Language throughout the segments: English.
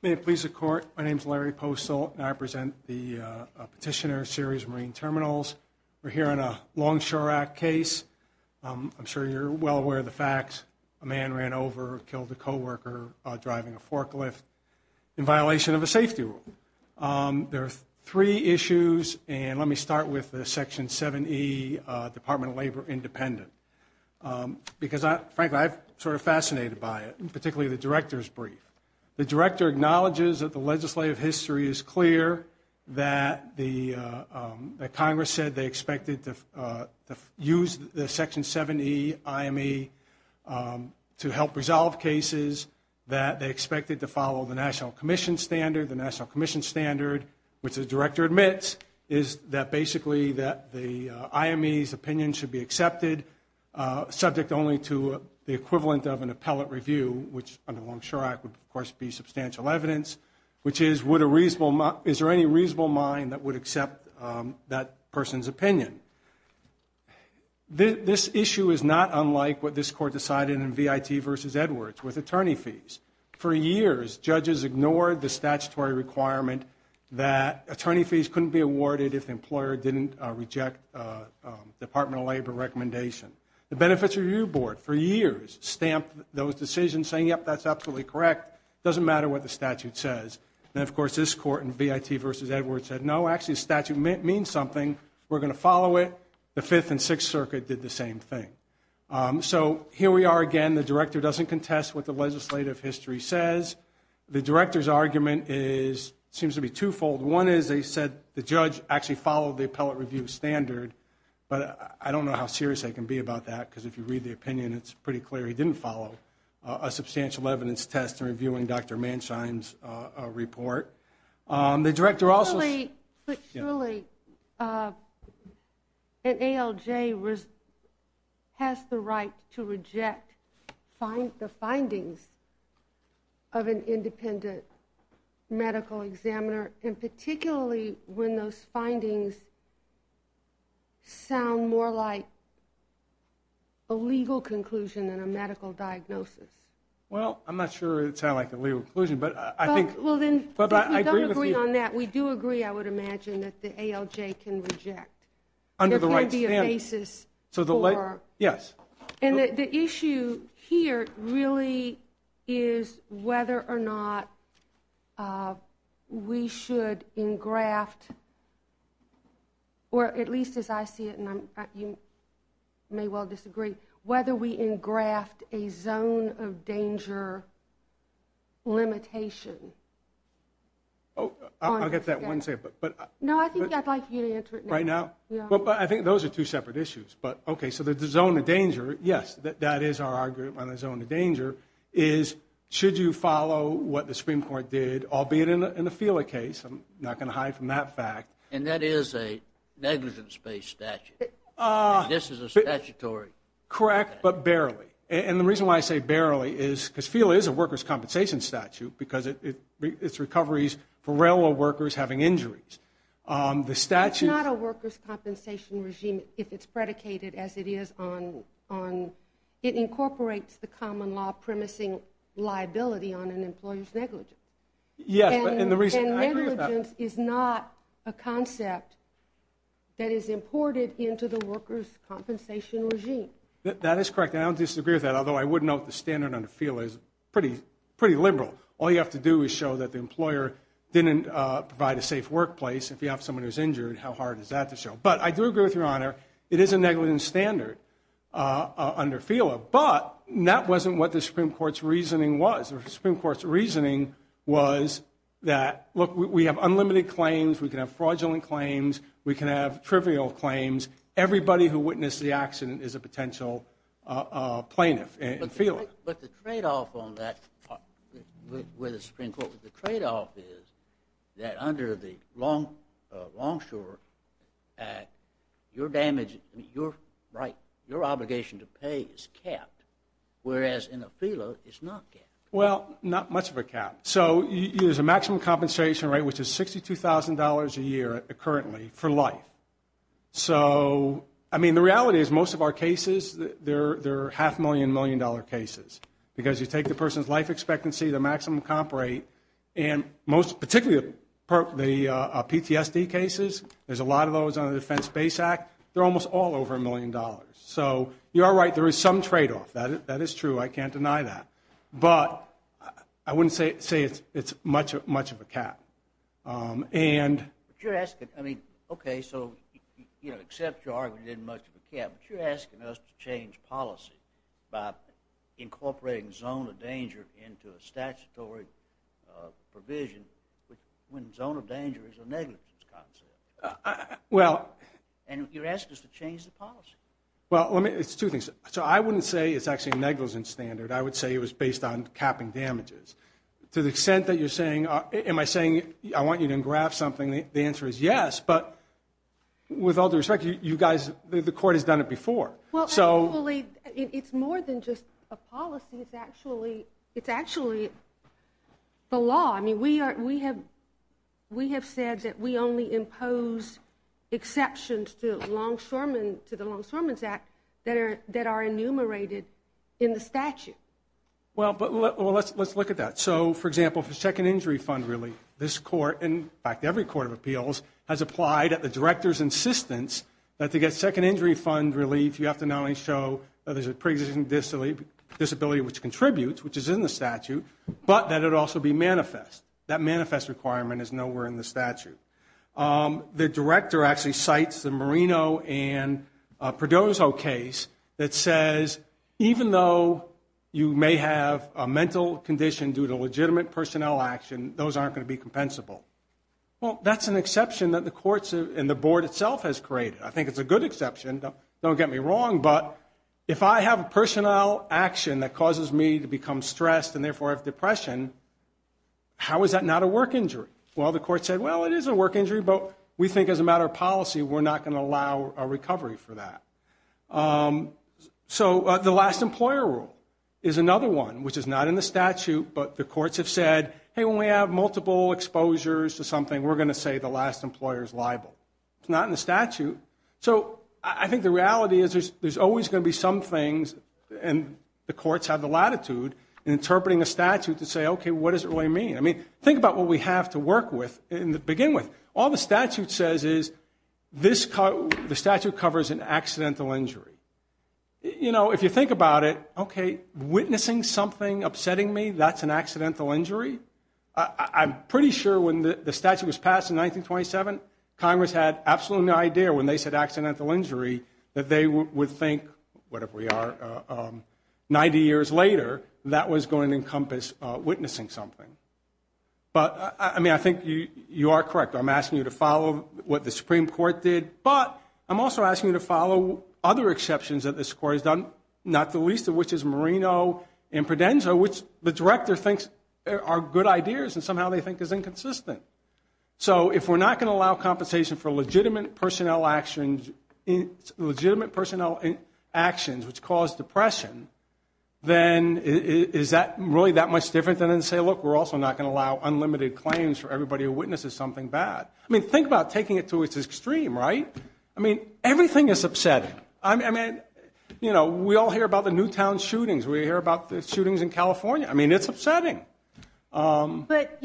May it please the Court, my name is Larry Postol, and I present the Petitioner Series Marine Terminals. We're here on a Longshore Act case, I'm sure you're well aware of the facts, a man ran over and killed a co-worker driving a forklift in violation of a safety rule. There are three issues, and let me start with Section 7E, Department of Labor, Independent. Because, frankly, I'm sort of fascinated by it, particularly the Director's brief. The Director acknowledges that the legislative history is clear, that Congress said they expected to use the Section 7E IME to help resolve cases, that they expected to follow the National Commission standard. The National Commission standard, which the Director admits, is that basically the IME's should be accepted, subject only to the equivalent of an appellate review, which under Longshore Act would, of course, be substantial evidence, which is, is there any reasonable mind that would accept that person's opinion? This issue is not unlike what this Court decided in V.I.T. v. Edwards with attorney fees. For years, judges ignored the statutory requirement that attorney fees couldn't be awarded if the employer didn't reject a Department of Labor recommendation. The Benefits Review Board, for years, stamped those decisions saying, yep, that's absolutely correct. It doesn't matter what the statute says. And, of course, this Court in V.I.T. v. Edwards said, no, actually, the statute means something. We're going to follow it. The Fifth and Sixth Circuit did the same thing. So here we are again. The Director doesn't contest what the legislative history says. The Director's argument is, seems to be twofold. One is, they said the judge actually followed the appellate review standard, but I don't know how serious they can be about that, because if you read the opinion, it's pretty clear he didn't follow a substantial evidence test in reviewing Dr. Mansheim's report. The Director also – An ALJ has the right to reject the findings of an independent medical examiner, and particularly when those findings sound more like a legal conclusion than a medical diagnosis. Well, I'm not sure it sounded like a legal conclusion, but I think – Well, then, if we don't agree on that, we do agree, I would imagine, that the ALJ can reject. Under the right standing. There can't be a basis for – Yes. And the issue here, really, is whether or not we should engraft, or at least as I see it, and you may well disagree, whether we engraft a zone of danger limitation on this case. Oh, I'll get to that in one second, but – No, I think I'd like you to answer it now. Right now? Yeah. Well, I think those are two separate issues. But, okay, so the zone of danger, yes, that is our argument on the zone of danger, is should you follow what the Supreme Court did, albeit in the FELA case, I'm not going to hide from that fact. And that is a negligence-based statute. This is a statutory statute. Correct, but barely. And the reason why I say barely is because FELA is a workers' compensation statute because it's recoveries for railroad workers having injuries. The statute – But the workers' compensation regime, if it's predicated as it is on – it incorporates the common law premising liability on an employer's negligence. Yes, and the reason – And negligence is not a concept that is imported into the workers' compensation regime. That is correct, and I would disagree with that, although I would note the standard under FELA is pretty liberal. All you have to do is show that the employer didn't provide a safe workplace. If you have someone who's injured, how hard is that to show? But I do agree with Your Honor, it is a negligence standard under FELA, but that wasn't what the Supreme Court's reasoning was. The Supreme Court's reasoning was that, look, we have unlimited claims, we can have fraudulent claims, we can have trivial claims. Everybody who witnessed the accident is a potential plaintiff in FELA. But the trade-off on that – with the Supreme Court – the trade-off is that under the Longshore Act, your obligation to pay is capped, whereas in a FELA, it's not capped. Well, not much of a cap. So there's a maximum compensation rate, which is $62,000 a year, currently, for life. So, I mean, the reality is, most of our cases, they're half-million, million-dollar cases. Because you take the person's life expectancy, their maximum comp rate, and most – particularly the PTSD cases – there's a lot of those under the Defense Base Act – they're almost all over a million dollars. So you are right, there is some trade-off. That is true, I can't deny that. But I wouldn't say it's much of a cap. But you're asking – I mean, okay, so, you know, except you argue it isn't much of a cap, but you're asking us to change policy by incorporating the zone of danger into a statutory provision, when the zone of danger is a negligence concept. And you're asking us to change the policy. Well, let me – it's two things. So I wouldn't say it's actually a negligence standard. I would say it was based on capping damages. To the extent that you're saying – am I saying – I want you to engraft something, the answer is yes. But with all due respect, you guys – the Court has done it before. So – Well, actually, it's more than just a policy, it's actually – it's actually the law. I mean, we are – we have – we have said that we only impose exceptions to Longshoremen – to the Longshoremen's Act that are enumerated in the statute. Well, but – well, let's look at that. So, for example, for second injury fund relief, this Court – in fact, every Court of Appeals has applied at the Director's insistence that to get second injury fund relief, you have to not only show that there's a pre-existing disability which contributes, which is in the statute, but that it also be manifest. That manifest requirement is nowhere in the statute. The Director actually cites the Marino and Perdozo case that says even though you may have a mental condition due to legitimate personnel action, those aren't going to be compensable. Well, that's an exception that the Courts and the Board itself has created. I think it's a good exception, don't get me wrong, but if I have a personnel action that causes me to become stressed and therefore have depression, how is that not a work injury? Well, the Court said, well, it is a work injury, but we think as a matter of policy we're not going to allow a recovery for that. So the last employer rule is another one which is not in the statute, but the Courts have said, hey, when we have multiple exposures to something, we're going to say the last employer is liable. It's not in the statute. So I think the reality is there's always going to be some things, and the Courts have the latitude in interpreting a statute to say, okay, what does it really mean? Think about what we have to work with and begin with. All the statute says is the statute covers an accidental injury. If you think about it, okay, witnessing something upsetting me, that's an accidental injury? I'm pretty sure when the statute was passed in 1927, Congress had absolutely no idea when they said accidental injury that they would think, whatever we are, 90 years later, that was going to encompass witnessing something. But I mean, I think you are correct. I'm asking you to follow what the Supreme Court did, but I'm also asking you to follow other exceptions that this Court has done, not the least of which is Marino and Prodenza, which the Director thinks are good ideas and somehow they think is inconsistent. So if we're not going to allow compensation for legitimate personnel actions which cause depression, then is that really that much different than to say, look, we're also not going to allow unlimited claims for everybody who witnesses something bad? I mean, think about taking it to its extreme, right? I mean, everything is upsetting. We all hear about the Newtown shootings. We hear about the shootings in California. I mean, it's upsetting. But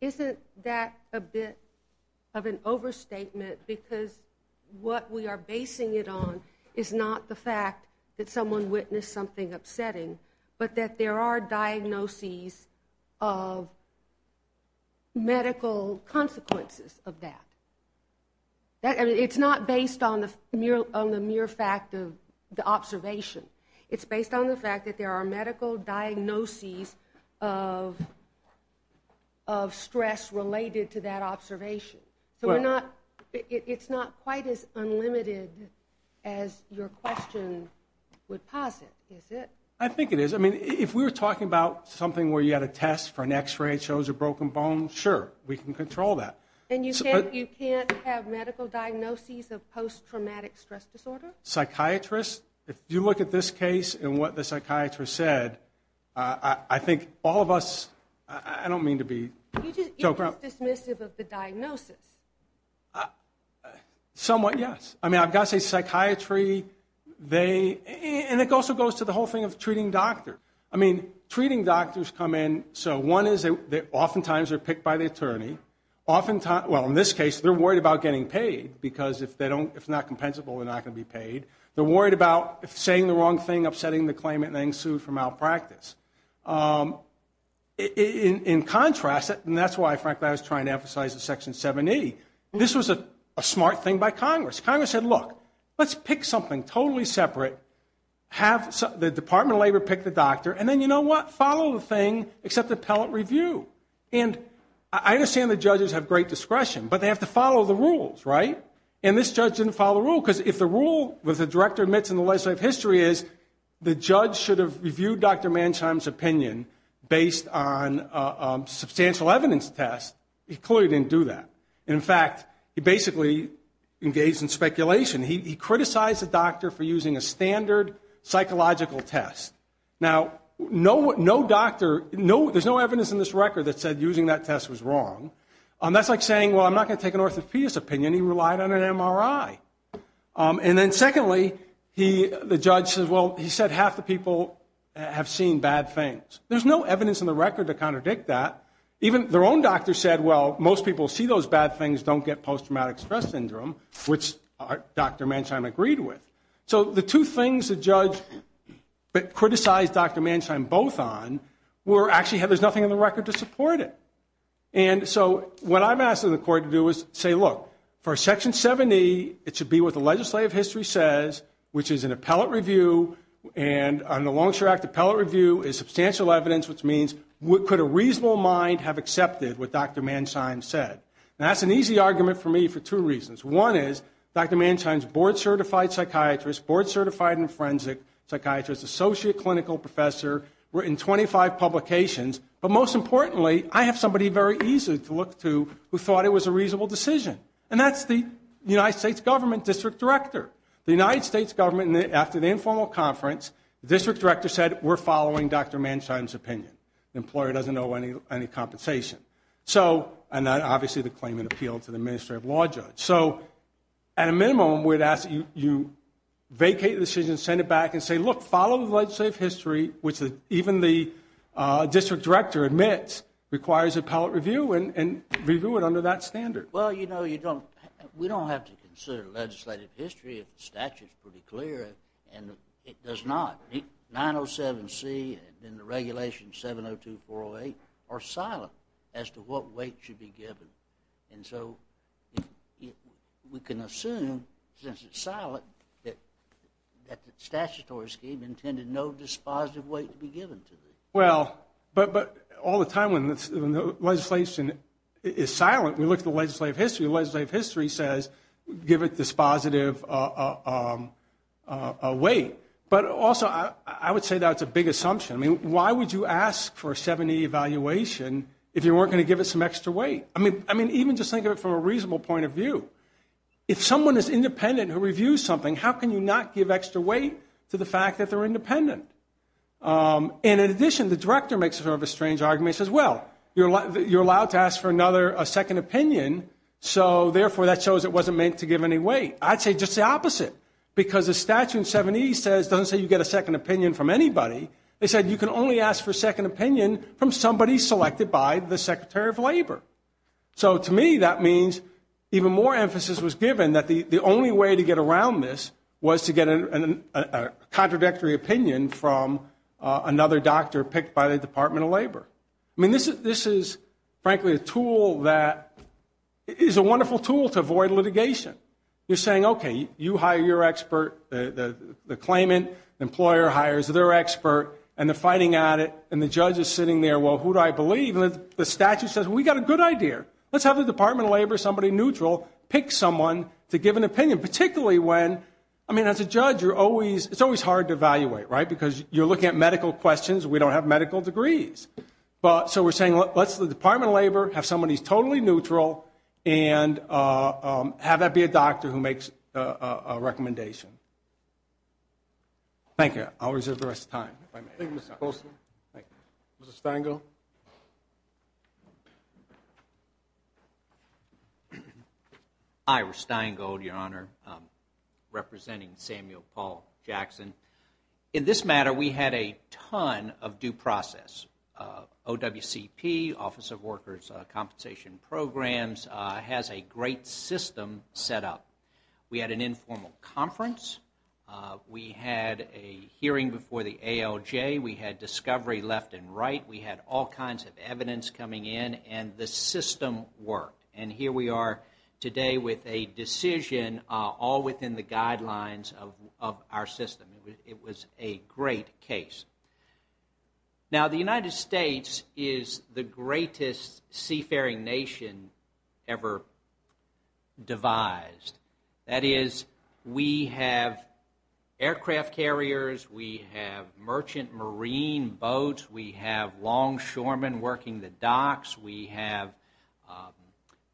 isn't that a bit of an overstatement because what we are basing it on is not the fact that someone witnessed something upsetting, but that there are diagnoses of medical consequences of that. It's not based on the mere fact of the observation. It's based on the fact that there are medical diagnoses of stress related to that observation. So we're not, it's not quite as unlimited as your question would posit, is it? I think it is. I mean, if we were talking about something where you had a test for an x-ray, it shows a broken bone, sure, we can control that. And you can't have medical diagnoses of post-traumatic stress disorder? Psychiatrists, if you look at this case and what the psychiatrist said, I think all of us, I don't mean to be joking. You just, it was dismissive of the diagnosis. Somewhat yes. I mean, I've got to say psychiatry, they, and it also goes to the whole thing of treating doctor. I mean, treating doctors come in, so one is that oftentimes they're picked by the attorney. Oftentimes, well in this case, they're worried about getting paid because if they don't, if it's not compensable, they're not going to be paid. They're worried about saying the wrong thing, upsetting the claimant, and getting sued for malpractice. In contrast, and that's why, frankly, I was trying to emphasize the Section 780, this was a smart thing by Congress. Congress said, look, let's pick something totally separate, have the Department of Labor pick the doctor, and then you know what? Follow the thing, except appellate review. And I understand the judges have great discretion, but they have to follow the rules, right? And this judge didn't follow the rule, because if the rule, what the director admits in the opinion based on substantial evidence test, he clearly didn't do that. In fact, he basically engaged in speculation. He criticized the doctor for using a standard psychological test. Now, no doctor, there's no evidence in this record that said using that test was wrong. That's like saying, well, I'm not going to take an orthopedist opinion. He relied on an MRI. And then secondly, the judge says, well, he said half the people have seen bad things. There's no evidence in the record to contradict that. Even their own doctor said, well, most people who see those bad things don't get post-traumatic stress syndrome, which Dr. Mansheim agreed with. So the two things the judge criticized Dr. Mansheim both on were actually, there's nothing in the record to support it. And so what I'm asking the court to do is say, look, for Section 70, it should be what the legislative history says, which is an appellate review. And on the Longshore Act, appellate review is substantial evidence, which means could a reasonable mind have accepted what Dr. Mansheim said? Now, that's an easy argument for me for two reasons. One is Dr. Mansheim's board-certified psychiatrist, board-certified infrensic psychiatrist, associate clinical professor, written 25 publications. But most importantly, I have somebody very easy to look to who thought it was a reasonable decision. And that's the United States government district director. The United States government, after the informal conference, the district director said, we're following Dr. Mansheim's opinion. The employer doesn't owe any compensation. And obviously, the claimant appealed to the administrative law judge. So at a minimum, you vacate the decision, send it back, and say, look, follow the legislative history, which even the district director admits requires appellate review, and review it under that standard. Well, you know, you don't, we don't have to consider legislative history if the statute's pretty clear, and it does not. 907C and the regulations 702, 408 are silent as to what weight should be given. And so we can assume, since it's silent, that the statutory scheme intended no dispositive weight to be given to it. Well, but all the time when the legislation is silent, we look at the legislative history. The legislative history says, give it dispositive weight. But also, I would say that's a big assumption. I mean, why would you ask for a 70 evaluation if you weren't going to give it some extra weight? I mean, even just think of it from a reasonable point of view. If someone is independent who reviews something, how can you not give extra weight to the fact that they're independent? And in addition, the director makes sort of a strange argument, says, well, you're allowed to ask for another, a second opinion, so therefore, that shows it wasn't meant to give any weight. I'd say just the opposite, because the statute in 70 says, doesn't say you get a second opinion from anybody. They said, you can only ask for a second opinion from somebody selected by the Secretary of Labor. So to me, that means even more emphasis was given that the only way to get around this was to get a contradictory opinion from another doctor picked by the Department of Labor. I mean, this is, frankly, a tool that is a wonderful tool to avoid litigation. You're saying, OK, you hire your expert, the claimant, the employer hires their expert, and they're fighting at it, and the judge is sitting there, well, who do I believe? The statute says, we've got a good idea. Let's have the Department of Labor, somebody neutral, pick someone to give an opinion, particularly when, I mean, as a judge, it's always hard to evaluate, right? Because you're looking at medical questions. We don't have medical degrees. So we're saying, let's the Department of Labor have somebody who's totally neutral and have that be a doctor who makes a recommendation. Thank you. I'll reserve the rest of the time, if I may. Thank you, Mr. Goldstein. Thank you. Mr. Steingold? Hi, we're Steingold, Your Honor, representing Samuel Paul Jackson. In this matter, we had a ton of due process, OWCP, Office of Workers' Compensation Programs, has a great system set up. We had an informal conference. We had a hearing before the ALJ. We had discovery left and right. We had all kinds of evidence coming in, and the system worked. And here we are today with a decision all within the guidelines of our system. It was a great case. Now, the United States is the greatest seafaring nation ever devised. That is, we have aircraft carriers. We have merchant marine boats. We have longshoremen working the docks. We have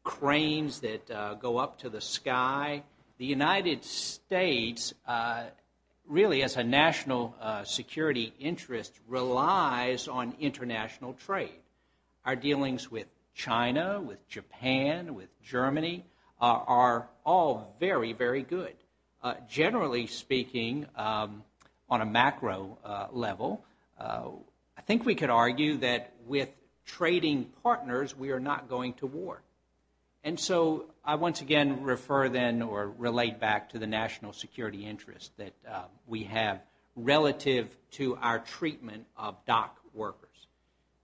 cranes that go up to the sky. The United States really, as a national security interest, relies on international trade. Our dealings with China, with Japan, with Germany are all very, very good. Generally speaking, on a macro level, I think we could argue that with trading partners, we are not going to war. And so I once again refer then or relate back to the national security interest that we have relative to our treatment of dock workers.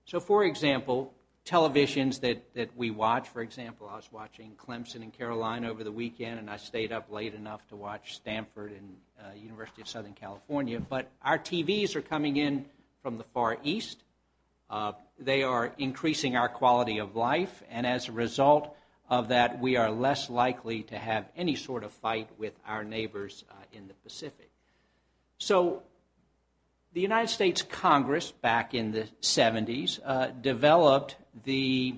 So for example, televisions that we watch, for example, I was watching Clemson and Caroline over the weekend, and I stayed up late enough to watch Stanford and University of Southern California. But our TVs are coming in from the Far East. They are increasing our quality of life. And as a result of that, we are less likely to have any sort of fight with our neighbors in the Pacific. So the United States Congress back in the 70s developed the,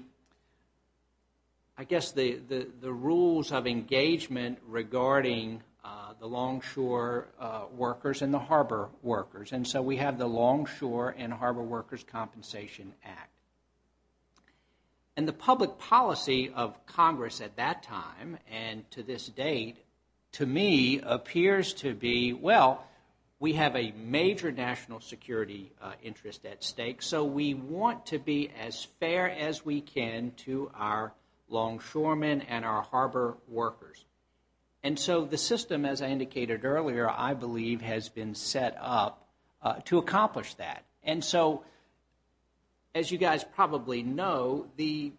I guess, the rules of engagement regarding the longshore workers and the harbor workers. And so we have the Longshore and Harbor Workers Compensation Act. And the public policy of Congress at that time and to this date, to me, appears to be, well, we have a major national security interest at stake. So we want to be as fair as we can to our longshoremen and our harbor workers. And so the system, as I indicated earlier, I believe has been set up to accomplish that. And so, as you guys probably know, the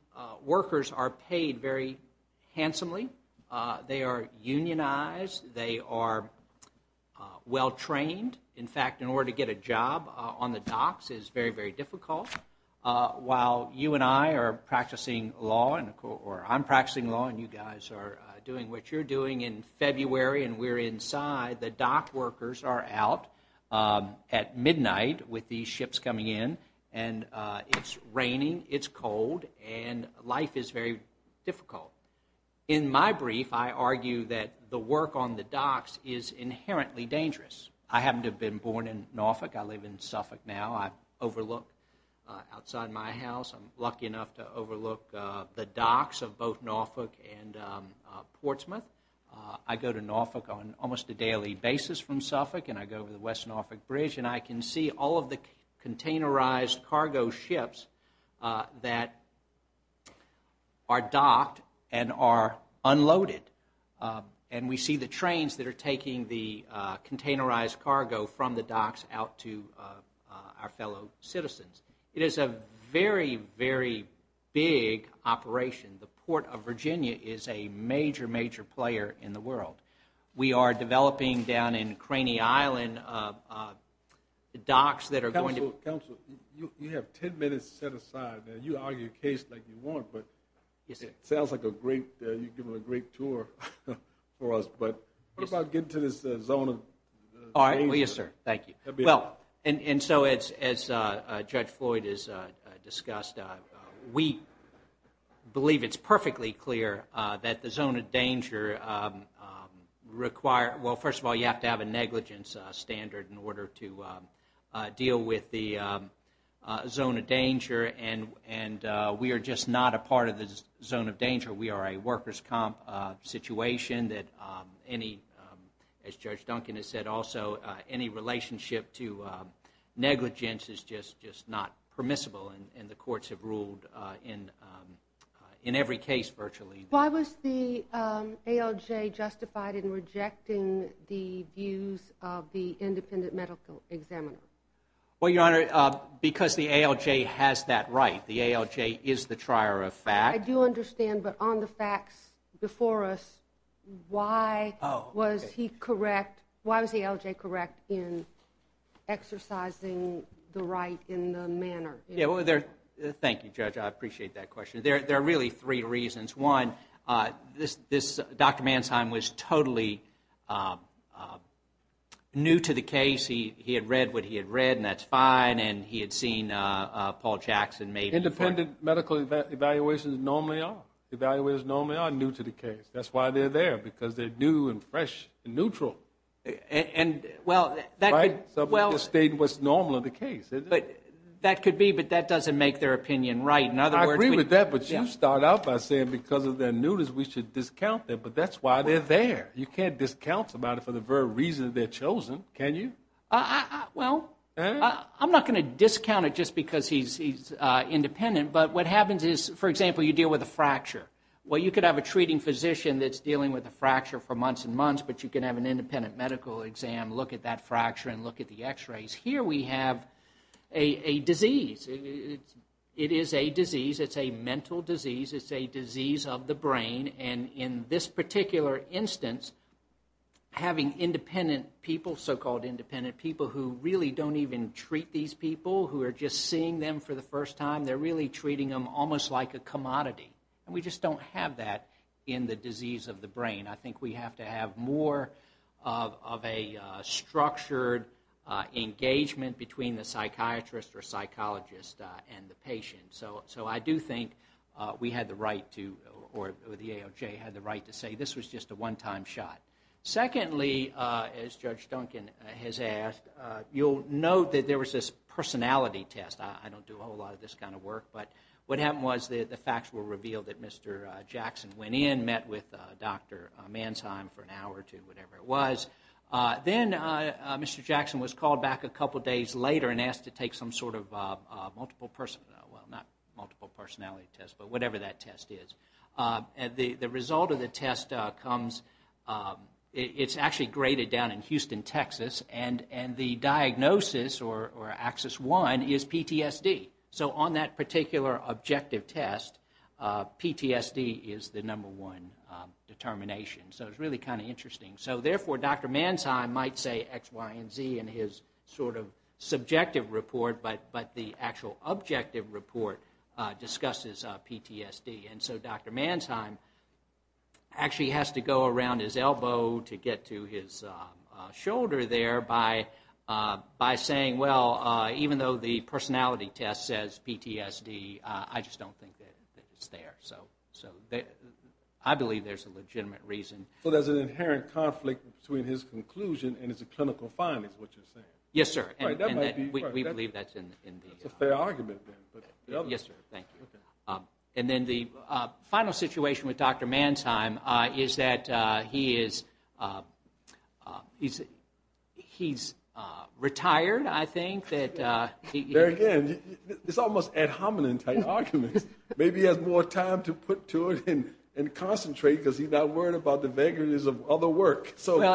workers are paid very handsomely. They are unionized. They are well-trained. In fact, in order to get a job on the docks is very, very difficult. While you and I are practicing law, or I'm practicing law and you guys are doing what you're doing in February and we're inside, the dock workers are out at midnight with these ships coming in. And it's raining, it's cold, and life is very difficult. In my brief, I argue that the work on the docks is inherently dangerous. I happen to have been born in Norfolk. I live in Suffolk now. I overlook outside my house. I'm lucky enough to overlook the docks of both Norfolk and Portsmouth. I go to Norfolk on almost a daily basis from Suffolk, and I go to the West Norfolk Bridge, and I can see all of the containerized cargo ships that are docked and are unloaded. And we see the trains that are taking the containerized cargo from the docks out to our fellow citizens. It is a very, very big operation. The Port of Virginia is a major, major player in the world. We are developing down in Craney Island the docks that are going to... Counsel, you have 10 minutes set aside. You argue a case like you want, but it sounds like a great... for us, but how about getting to this zone of danger? All right. Will you, sir? Thank you. Well, and so as Judge Floyd has discussed, we believe it's perfectly clear that the zone of danger require... Well, first of all, you have to have a negligence standard in order to deal with the zone of danger, and we are just not a part of the zone of danger. We are a workers' comp situation that any, as Judge Duncan has said also, any relationship to negligence is just not permissible, and the courts have ruled in every case virtually. Why was the ALJ justified in rejecting the views of the independent medical examiner? Well, Your Honor, because the ALJ has that right. The ALJ is the trier of fact. I do understand, but on the facts before us, why was he correct? Why was the ALJ correct in exercising the right in the manner? Yeah, well, thank you, Judge. I appreciate that question. There are really three reasons. One, Dr. Mansheim was totally new to the case. He had read what he had read, and that's fine, and he had seen Paul Jackson maybe... Independent medical evaluations normally are. Evaluators normally are new to the case. That's why they're there, because they're new and fresh and neutral. And well... Right? Something to state what's normal in the case, isn't it? That could be, but that doesn't make their opinion right. In other words... I agree with that, but you start out by saying because of their newness, we should discount them, but that's why they're there. You can't discount somebody for the very reason that they're chosen, can you? Well, I'm not going to discount it just because he's independent, but what happens is, for example, you deal with a fracture. Well, you could have a treating physician that's dealing with a fracture for months and months, but you can have an independent medical exam, look at that fracture, and look at the x-rays. Here, we have a disease. It is a disease. It's a mental disease. It's a disease of the brain, and in this particular instance, having independent people, so-called independent people who really don't even treat these people, who are just seeing them for the first time, they're really treating them almost like a commodity, and we just don't have that in the disease of the brain. I think we have to have more of a structured engagement between the psychiatrist or psychologist and the patient, so I do think we had the right to, or the AOJ had the right to say this was just a one-time shot. Secondly, as Judge Duncan has asked, you'll note that there was this personality test. I don't do a whole lot of this kind of work, but what happened was the facts were revealed that Mr. Jackson went in, met with Dr. Mansheim for an hour or two, whatever it was. Then Mr. Jackson was called back a couple days later and asked to take some sort of multiple personality, well, not multiple personality test, but whatever that test is. The result of the test comes, it's actually graded down in Houston, Texas, and the diagnosis or axis one is PTSD. On that particular objective test, PTSD is the number one determination, so it's really kind of interesting. Therefore, Dr. Mansheim might say X, Y, and Z in his sort of subjective report, but the actual objective report discusses PTSD. So, Dr. Mansheim actually has to go around his elbow to get to his shoulder there by saying, well, even though the personality test says PTSD, I just don't think that it's there. So, I believe there's a legitimate reason. So, there's an inherent conflict between his conclusion and his clinical findings, is what you're saying? Yes, sir. We believe that's in the... That's a fair argument, then. Yes, sir. Thank you. And then the final situation with Dr. Mansheim is that he's retired, I think. There again, it's almost ad hominem type arguments. Maybe he has more time to put to it and concentrate because he's not worried about the vagaries of other work. Well,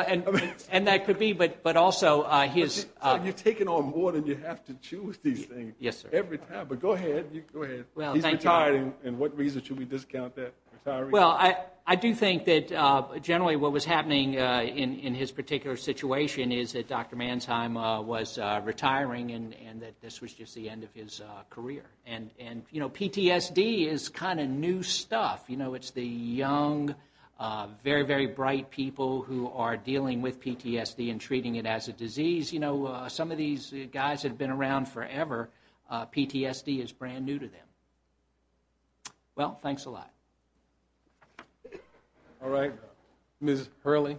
and that could be, but also his... You're taking on more than you have to choose these things. Yes, sir. Every time. But go ahead. Go ahead. He's retired, and what reason should we discount that? Retiring? Well, I do think that generally what was happening in his particular situation is that Dr. Mansheim was retiring and that this was just the end of his career. And PTSD is kind of new stuff. It's the young, very, very bright people who are dealing with PTSD and treating it as a disease. So some of these guys have been around forever. PTSD is brand new to them. Well, thanks a lot. All right. Ms. Hurley.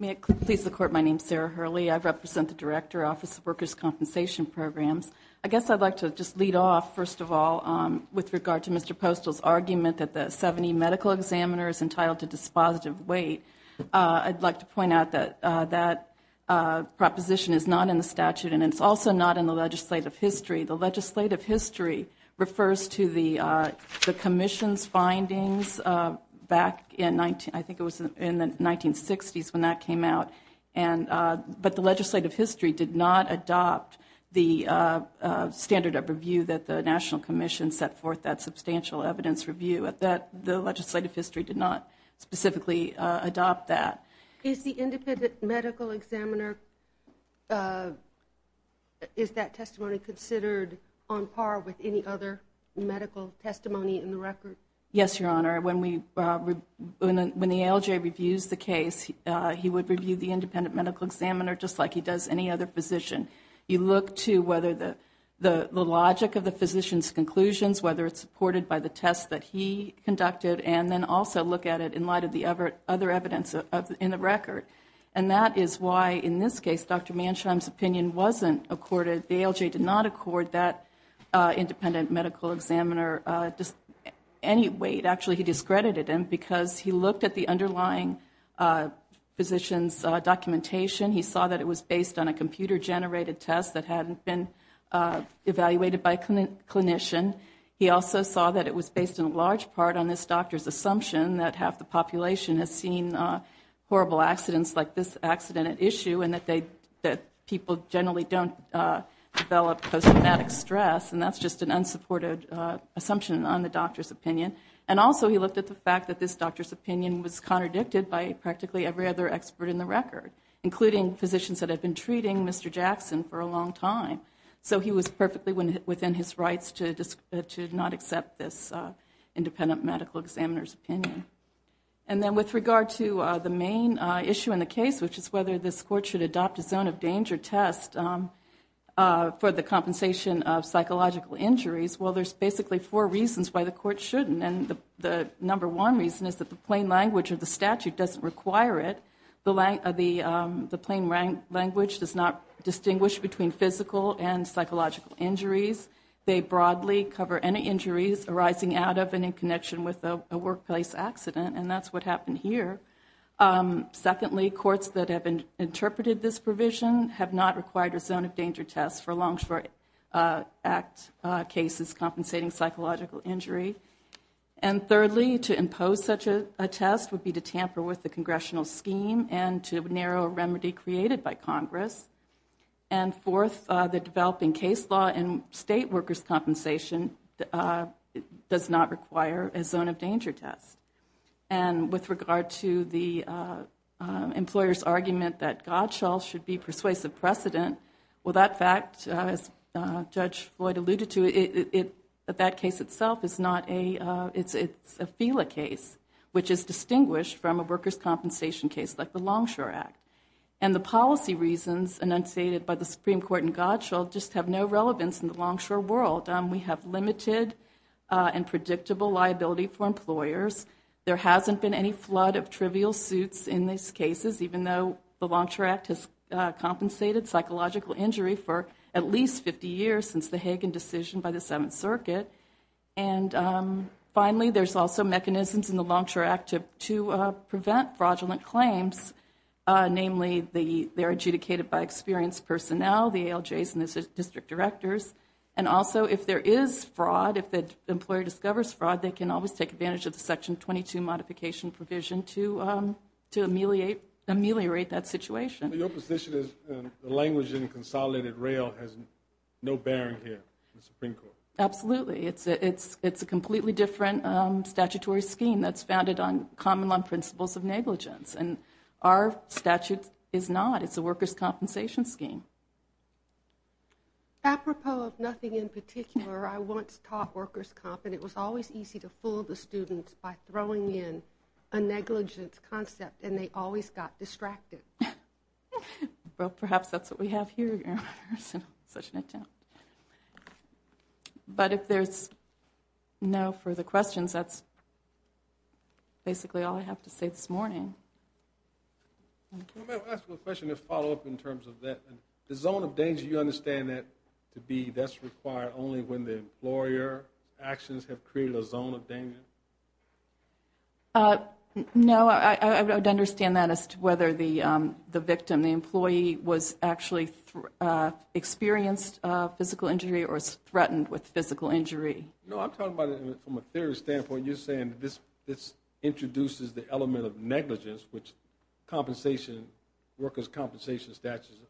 May it please the Court, my name is Sarah Hurley. I represent the Director, Office of Workers' Compensation Programs. I guess I'd like to just lead off, first of all, with regard to Mr. Postol's argument that the 70 medical examiner is entitled to dispositive weight, I'd like to point out that that proposition is not in the statute, and it's also not in the legislative history. The legislative history refers to the Commission's findings back in, I think it was in the 1960s when that came out. But the legislative history did not adopt the standard of review that the National Commission set forth that substantial evidence review. The legislative history did not specifically adopt that. Is the independent medical examiner, is that testimony considered on par with any other medical testimony in the record? Yes, Your Honor. When the ALJ reviews the case, he would review the independent medical examiner just like he does any other physician. You look to whether the logic of the physician's conclusions, whether it's supported by the tests that he conducted, and then also look at it in light of the other evidence in the record. And that is why, in this case, Dr. Mansheim's opinion wasn't accorded, the ALJ did not accord that independent medical examiner any weight. Actually, he discredited him because he looked at the underlying physician's documentation. He saw that it was based on a computer-generated test that hadn't been evaluated by a clinician. He also saw that it was based in large part on this doctor's assumption that half the population has seen horrible accidents like this accident at issue and that people generally don't develop post-traumatic stress, and that's just an unsupported assumption on the doctor's opinion. And also he looked at the fact that this doctor's opinion was contradicted by practically every other expert in the record, including physicians that had been treating Mr. Jackson for a long time. So he was perfectly within his rights to not accept this independent medical examiner's opinion. And then with regard to the main issue in the case, which is whether this court should adopt a zone of danger test for the compensation of psychological injuries, well, there's basically four reasons why the court shouldn't. And the number one reason is that the plain language of the statute doesn't require it. The plain language does not distinguish between physical and psychological injuries. They broadly cover any injuries arising out of and in connection with a workplace accident, and that's what happened here. Secondly, courts that have interpreted this provision have not required a zone of danger test for Longshore Act cases compensating psychological injury. And thirdly, to impose such a test would be to tamper with the congressional scheme and to narrow a remedy created by Congress. And fourth, the developing case law and state workers' compensation does not require a zone of danger test. And with regard to the employer's argument that God shall should be persuasive precedent, well, that fact, as Judge Floyd alluded to, that case itself is not a, it's a FELA case, which is distinguished from a workers' compensation case like the Longshore Act. And the policy reasons enunciated by the Supreme Court in God shall just have no relevance in the Longshore world. We have limited and predictable liability for employers. There hasn't been any flood of trivial suits in these cases, even though the Longshore Act has compensated psychological injury for at least 50 years since the Hagan decision by the Seventh Circuit. And finally, there's also mechanisms in the Longshore Act to prevent fraudulent claims, namely they're adjudicated by experienced personnel, the ALJs and the district directors. And also if there is fraud, if the employer discovers fraud, they can always take advantage of the Section 22 modification provision to ameliorate that situation. Your position is the language in Consolidated Rail has no bearing here in the Supreme Court. Absolutely. It's a completely different statutory scheme that's founded on common principles of negligence. And our statute is not. It's a workers' compensation scheme. Apropos of nothing in particular, I once taught workers' comp, and it was always easy to fool the students by throwing in a negligence concept, and they always got distracted. Well, perhaps that's what we have here. Such an attempt. But if there's no further questions, that's basically all I have to say this morning. Can I ask a question to follow up in terms of that? The zone of danger, you understand that to be, that's required only when the employer actions have created a zone of danger? No, I would understand that as to whether the victim, the employee, was actually experienced physical injury or was threatened with physical injury. No, I'm talking about it from a theory standpoint. You're saying this introduces the element of negligence, which compensation, workers' compensation statutes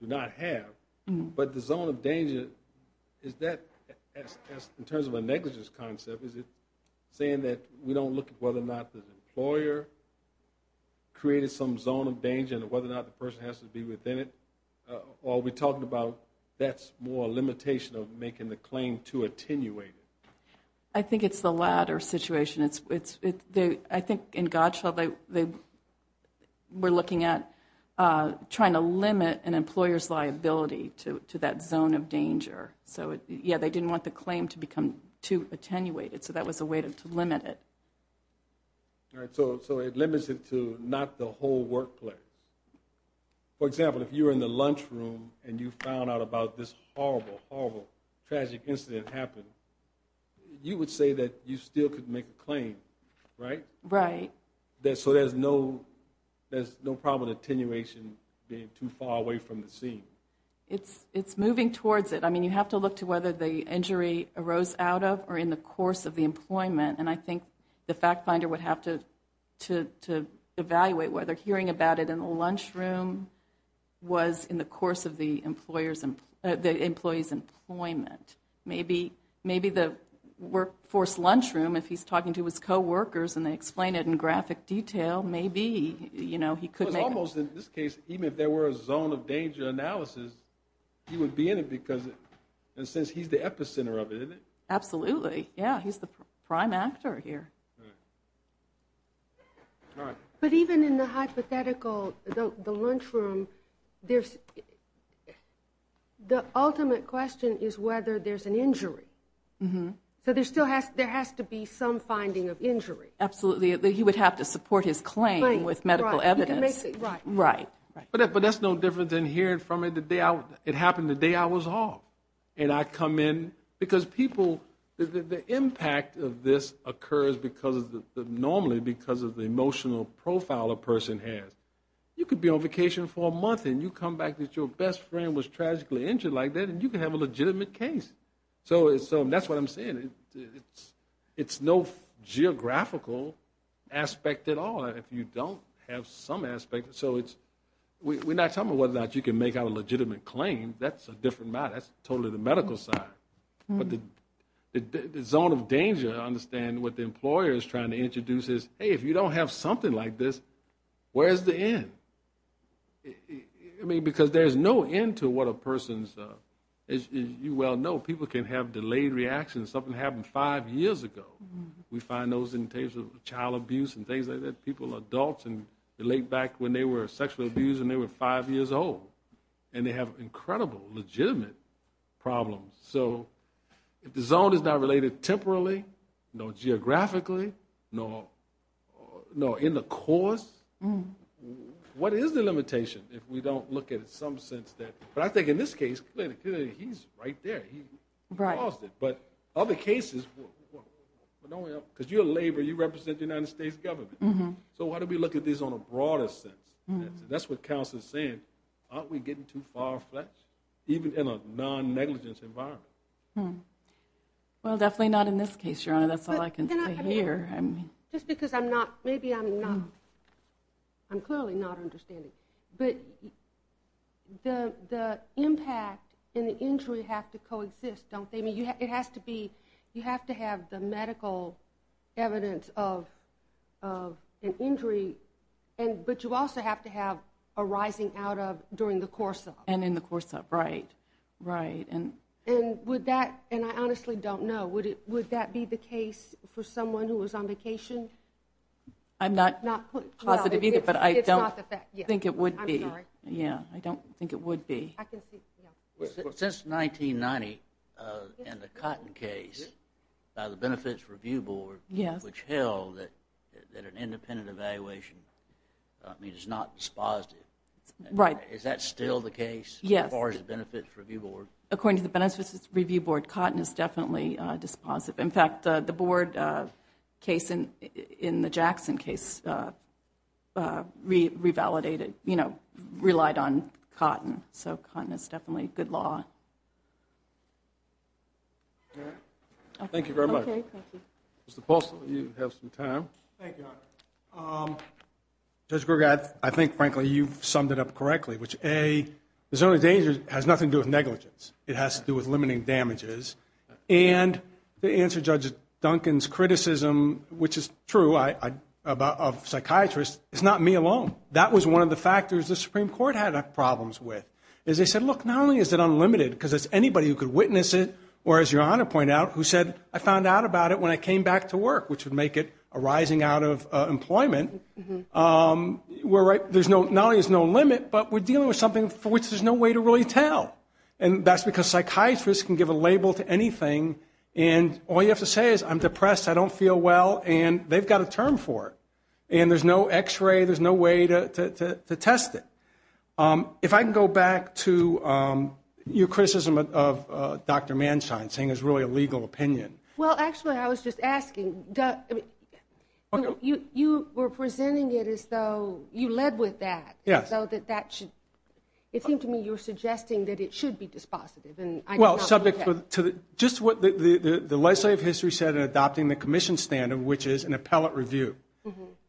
do not have. But the zone of danger, is that, in terms of a negligence concept, is it saying that we don't look at whether or not the employer created some zone of danger and whether or not the person has to be within it? Or are we talking about that's more a limitation of making the claim too attenuated? I think it's the latter situation. I think in God's show they were looking at trying to limit an employer's liability to that zone of danger. So, yeah, they didn't want the claim to become too attenuated, so that was a way to limit it. All right, so it limits it to not the whole workplace. For example, if you were in the lunchroom and you found out about this horrible, tragic incident happened, you would say that you still could make a claim, right? Right. So there's no problem with attenuation being too far away from the scene. It's moving towards it. I mean, you have to look to whether the injury arose out of or in the course of the employment, and I think the fact finder would have to evaluate whether hearing about it in the lunchroom was in the course of the employee's employment. Maybe the workforce lunchroom, if he's talking to his coworkers and they explain it in graphic detail, maybe he could make it. Almost in this case, even if there were a zone of danger analysis, he would be in it because, in a sense, he's the epicenter of it, isn't he? Absolutely, yeah, he's the prime actor here. All right. But even in the hypothetical, the lunchroom, the ultimate question is whether there's an injury. So there has to be some finding of injury. Absolutely. He would have to support his claim with medical evidence. Right. But that's no different than hearing from it the day I was off. And I come in because people, the impact of this occurs normally because of the emotional profile a person has. You could be on vacation for a month, and you come back that your best friend was tragically injured like that, and you can have a legitimate case. So that's what I'm saying. It's no geographical aspect at all if you don't have some aspect. So we're not talking about whether or not you can make out a legitimate claim. That's a different matter. That's totally the medical side. But the zone of danger, I understand, what the employer is trying to introduce is, hey, if you don't have something like this, where's the end? I mean, because there's no end to what a person's, as you well know, people can have delayed reactions, something happened five years ago. We find those in terms of child abuse and things like that, people, adults, and late back when they were sexually abused and they were five years old. And they have incredible legitimate problems. So if the zone is not related temporally, no geographically, no in the course, what is the limitation if we don't look at it in some sense? But I think in this case, clearly he's right there. He caused it. But other cases, because you're a laborer, you represent the United States government. So why don't we look at this on a broader sense? That's what counsel is saying. Aren't we getting too far-fetched, even in a non-negligence environment? Well, definitely not in this case, Your Honor. That's all I can say here. Just because I'm not, maybe I'm not, I'm clearly not understanding. But the impact and the injury have to coexist, don't they? It has to be, you have to have the medical evidence of an injury, but you also have to have a rising out of during the course of it. And in the course of it, right, right. And would that, and I honestly don't know, would that be the case for someone who was on vacation? I'm not positive either, but I don't think it would be. I'm sorry. Yeah, I don't think it would be. Since 1990 and the Cotton case by the Benefits Review Board, which held that an independent evaluation means it's not dispositive. Right. Is that still the case? Yes. As far as the Benefits Review Board? According to the Benefits Review Board, cotton is definitely dispositive. In fact, the board case in the Jackson case revalidated, you know, relied on cotton. So cotton is definitely good law. Thank you very much. Thank you. Mr. Paulson, you have some time. Thank you, Honor. Judge Grugat, I think, frankly, you've summed it up correctly, which A, the zone of danger has nothing to do with negligence. It has to do with limiting damages. And to answer Judge Duncan's criticism, which is true, of psychiatrists, it's not me alone. That was one of the factors the Supreme Court had problems with, is they said, look, not only is it unlimited, because it's anybody who could witness it, or as Your Honor pointed out, who said, I found out about it when I came back to work, which would make it a rising out of employment. We're right, not only is it no limit, but we're dealing with something for which there's no way to really tell. And that's because psychiatrists can give a label to anything, and all you have to say is, I'm depressed, I don't feel well, and they've got a term for it. And there's no X-ray, there's no way to test it. If I can go back to your criticism of Dr. Manstein, saying it was really a legal opinion. Well, actually, I was just asking, you were presenting it as though you led with that. It seemed to me you were suggesting that it should be dispositive. Well, subject to just what the legislative history said in adopting the commission standard, which is an appellate review.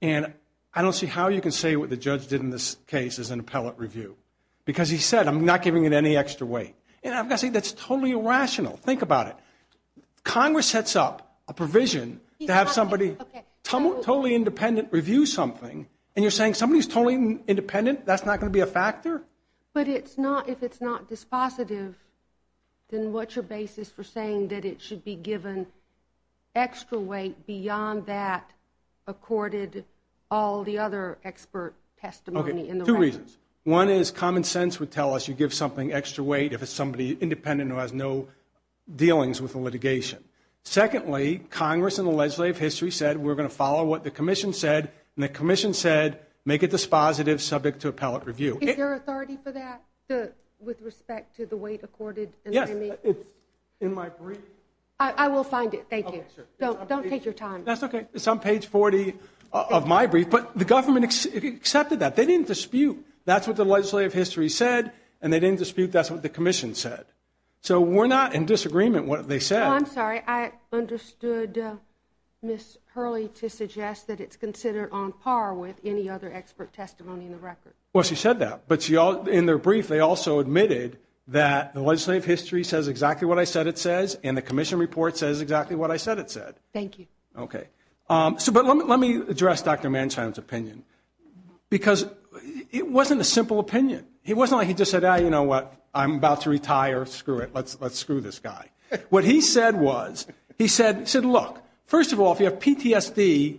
And I don't see how you can say what the judge did in this case is an appellate review, because he said, I'm not giving it any extra weight. And I've got to say, that's totally irrational. Think about it. Congress sets up a provision to have somebody totally independent review something, and you're saying somebody who's totally independent, that's not going to be a factor? But if it's not dispositive, then what's your basis for saying that it should be given extra weight beyond that, accorded all the other expert testimony in the record? Okay, two reasons. One is common sense would tell us you give something extra weight if it's somebody independent who has no dealings with the litigation. Secondly, Congress in the legislative history said, we're going to follow what the commission said, and the commission said make it dispositive, subject to appellate review. Is there authority for that with respect to the weight accorded? Yes, it's in my brief. I will find it, thank you. Don't take your time. That's okay. It's on page 40 of my brief. But the government accepted that. They didn't dispute that's what the legislative history said, and they didn't dispute that's what the commission said. So we're not in disagreement what they said. I'm sorry. I understood Ms. Hurley to suggest that it's considered on par with any other expert testimony in the record. Well, she said that. But in their brief, they also admitted that the legislative history says exactly what I said it says, and the commission report says exactly what I said it said. Thank you. Okay. But let me address Dr. Mansfield's opinion. Because it wasn't a simple opinion. It wasn't like he just said, you know what, I'm about to retire, screw it, let's screw this guy. What he said was, he said, look, first of all, if you have PTSD,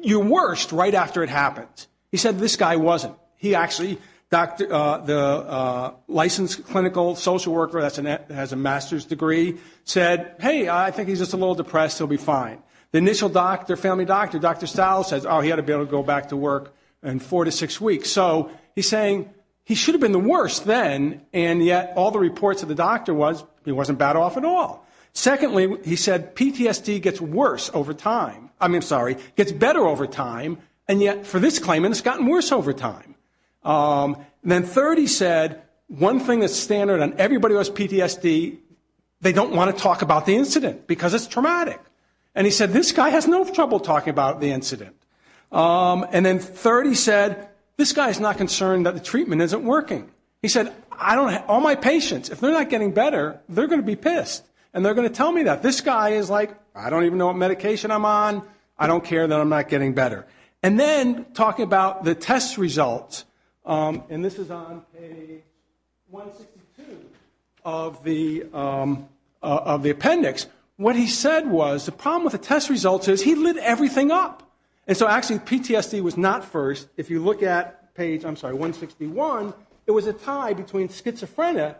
you're worse right after it happens. He said this guy wasn't. He actually, the licensed clinical social worker that has a master's degree said, hey, I think he's just a little depressed, he'll be fine. The initial doctor, family doctor, Dr. Stiles says, oh, he ought to be able to go back to work in four to six weeks. So he's saying he should have been the worst then, and yet all the reports of the doctor was he wasn't bad off at all. Secondly, he said PTSD gets worse over time. I mean, sorry, gets better over time, and yet for this claimant, it's gotten worse over time. And then third, he said, one thing that's standard on everybody who has PTSD, they don't want to talk about the incident because it's traumatic. And he said, this guy has no trouble talking about the incident. And then third, he said, this guy is not concerned that the treatment isn't working. He said, all my patients, if they're not getting better, they're going to be pissed, and they're going to tell me that. This guy is like, I don't even know what medication I'm on, I don't care that I'm not getting better. And then talking about the test results, and this is on page 162 of the appendix, what he said was the problem with the test results is he lit everything up. And so actually PTSD was not first. If you look at page 161, it was a tie between schizophrenia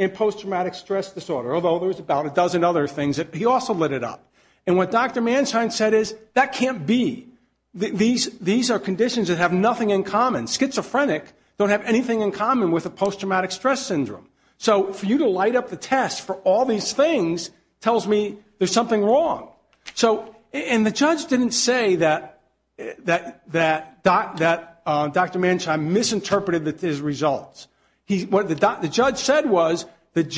and post-traumatic stress disorder, although there was about a dozen other things that he also lit it up. And what Dr. Manshine said is, that can't be. These are conditions that have nothing in common. Schizophrenic don't have anything in common with a post-traumatic stress syndrome. So for you to light up the test for all these things tells me there's something wrong. And the judge didn't say that Dr. Manshine misinterpreted his results. The judge said was, Dr.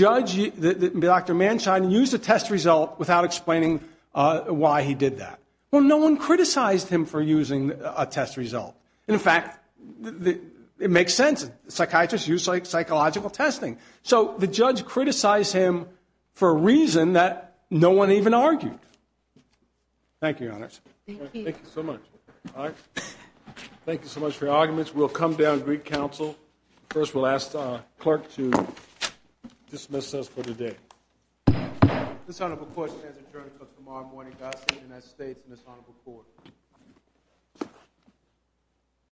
Manshine used a test result without explaining why he did that. Well, no one criticized him for using a test result. In fact, it makes sense. Psychiatrists use psychological testing. So the judge criticized him for a reason that no one even argued. Thank you, Your Honors. Thank you so much. Thank you so much for your arguments. We'll come down to Greek Council. First, we'll ask the clerk to dismiss us for the day. This honorable court stands adjourned until tomorrow morning. God save the United States and this honorable court.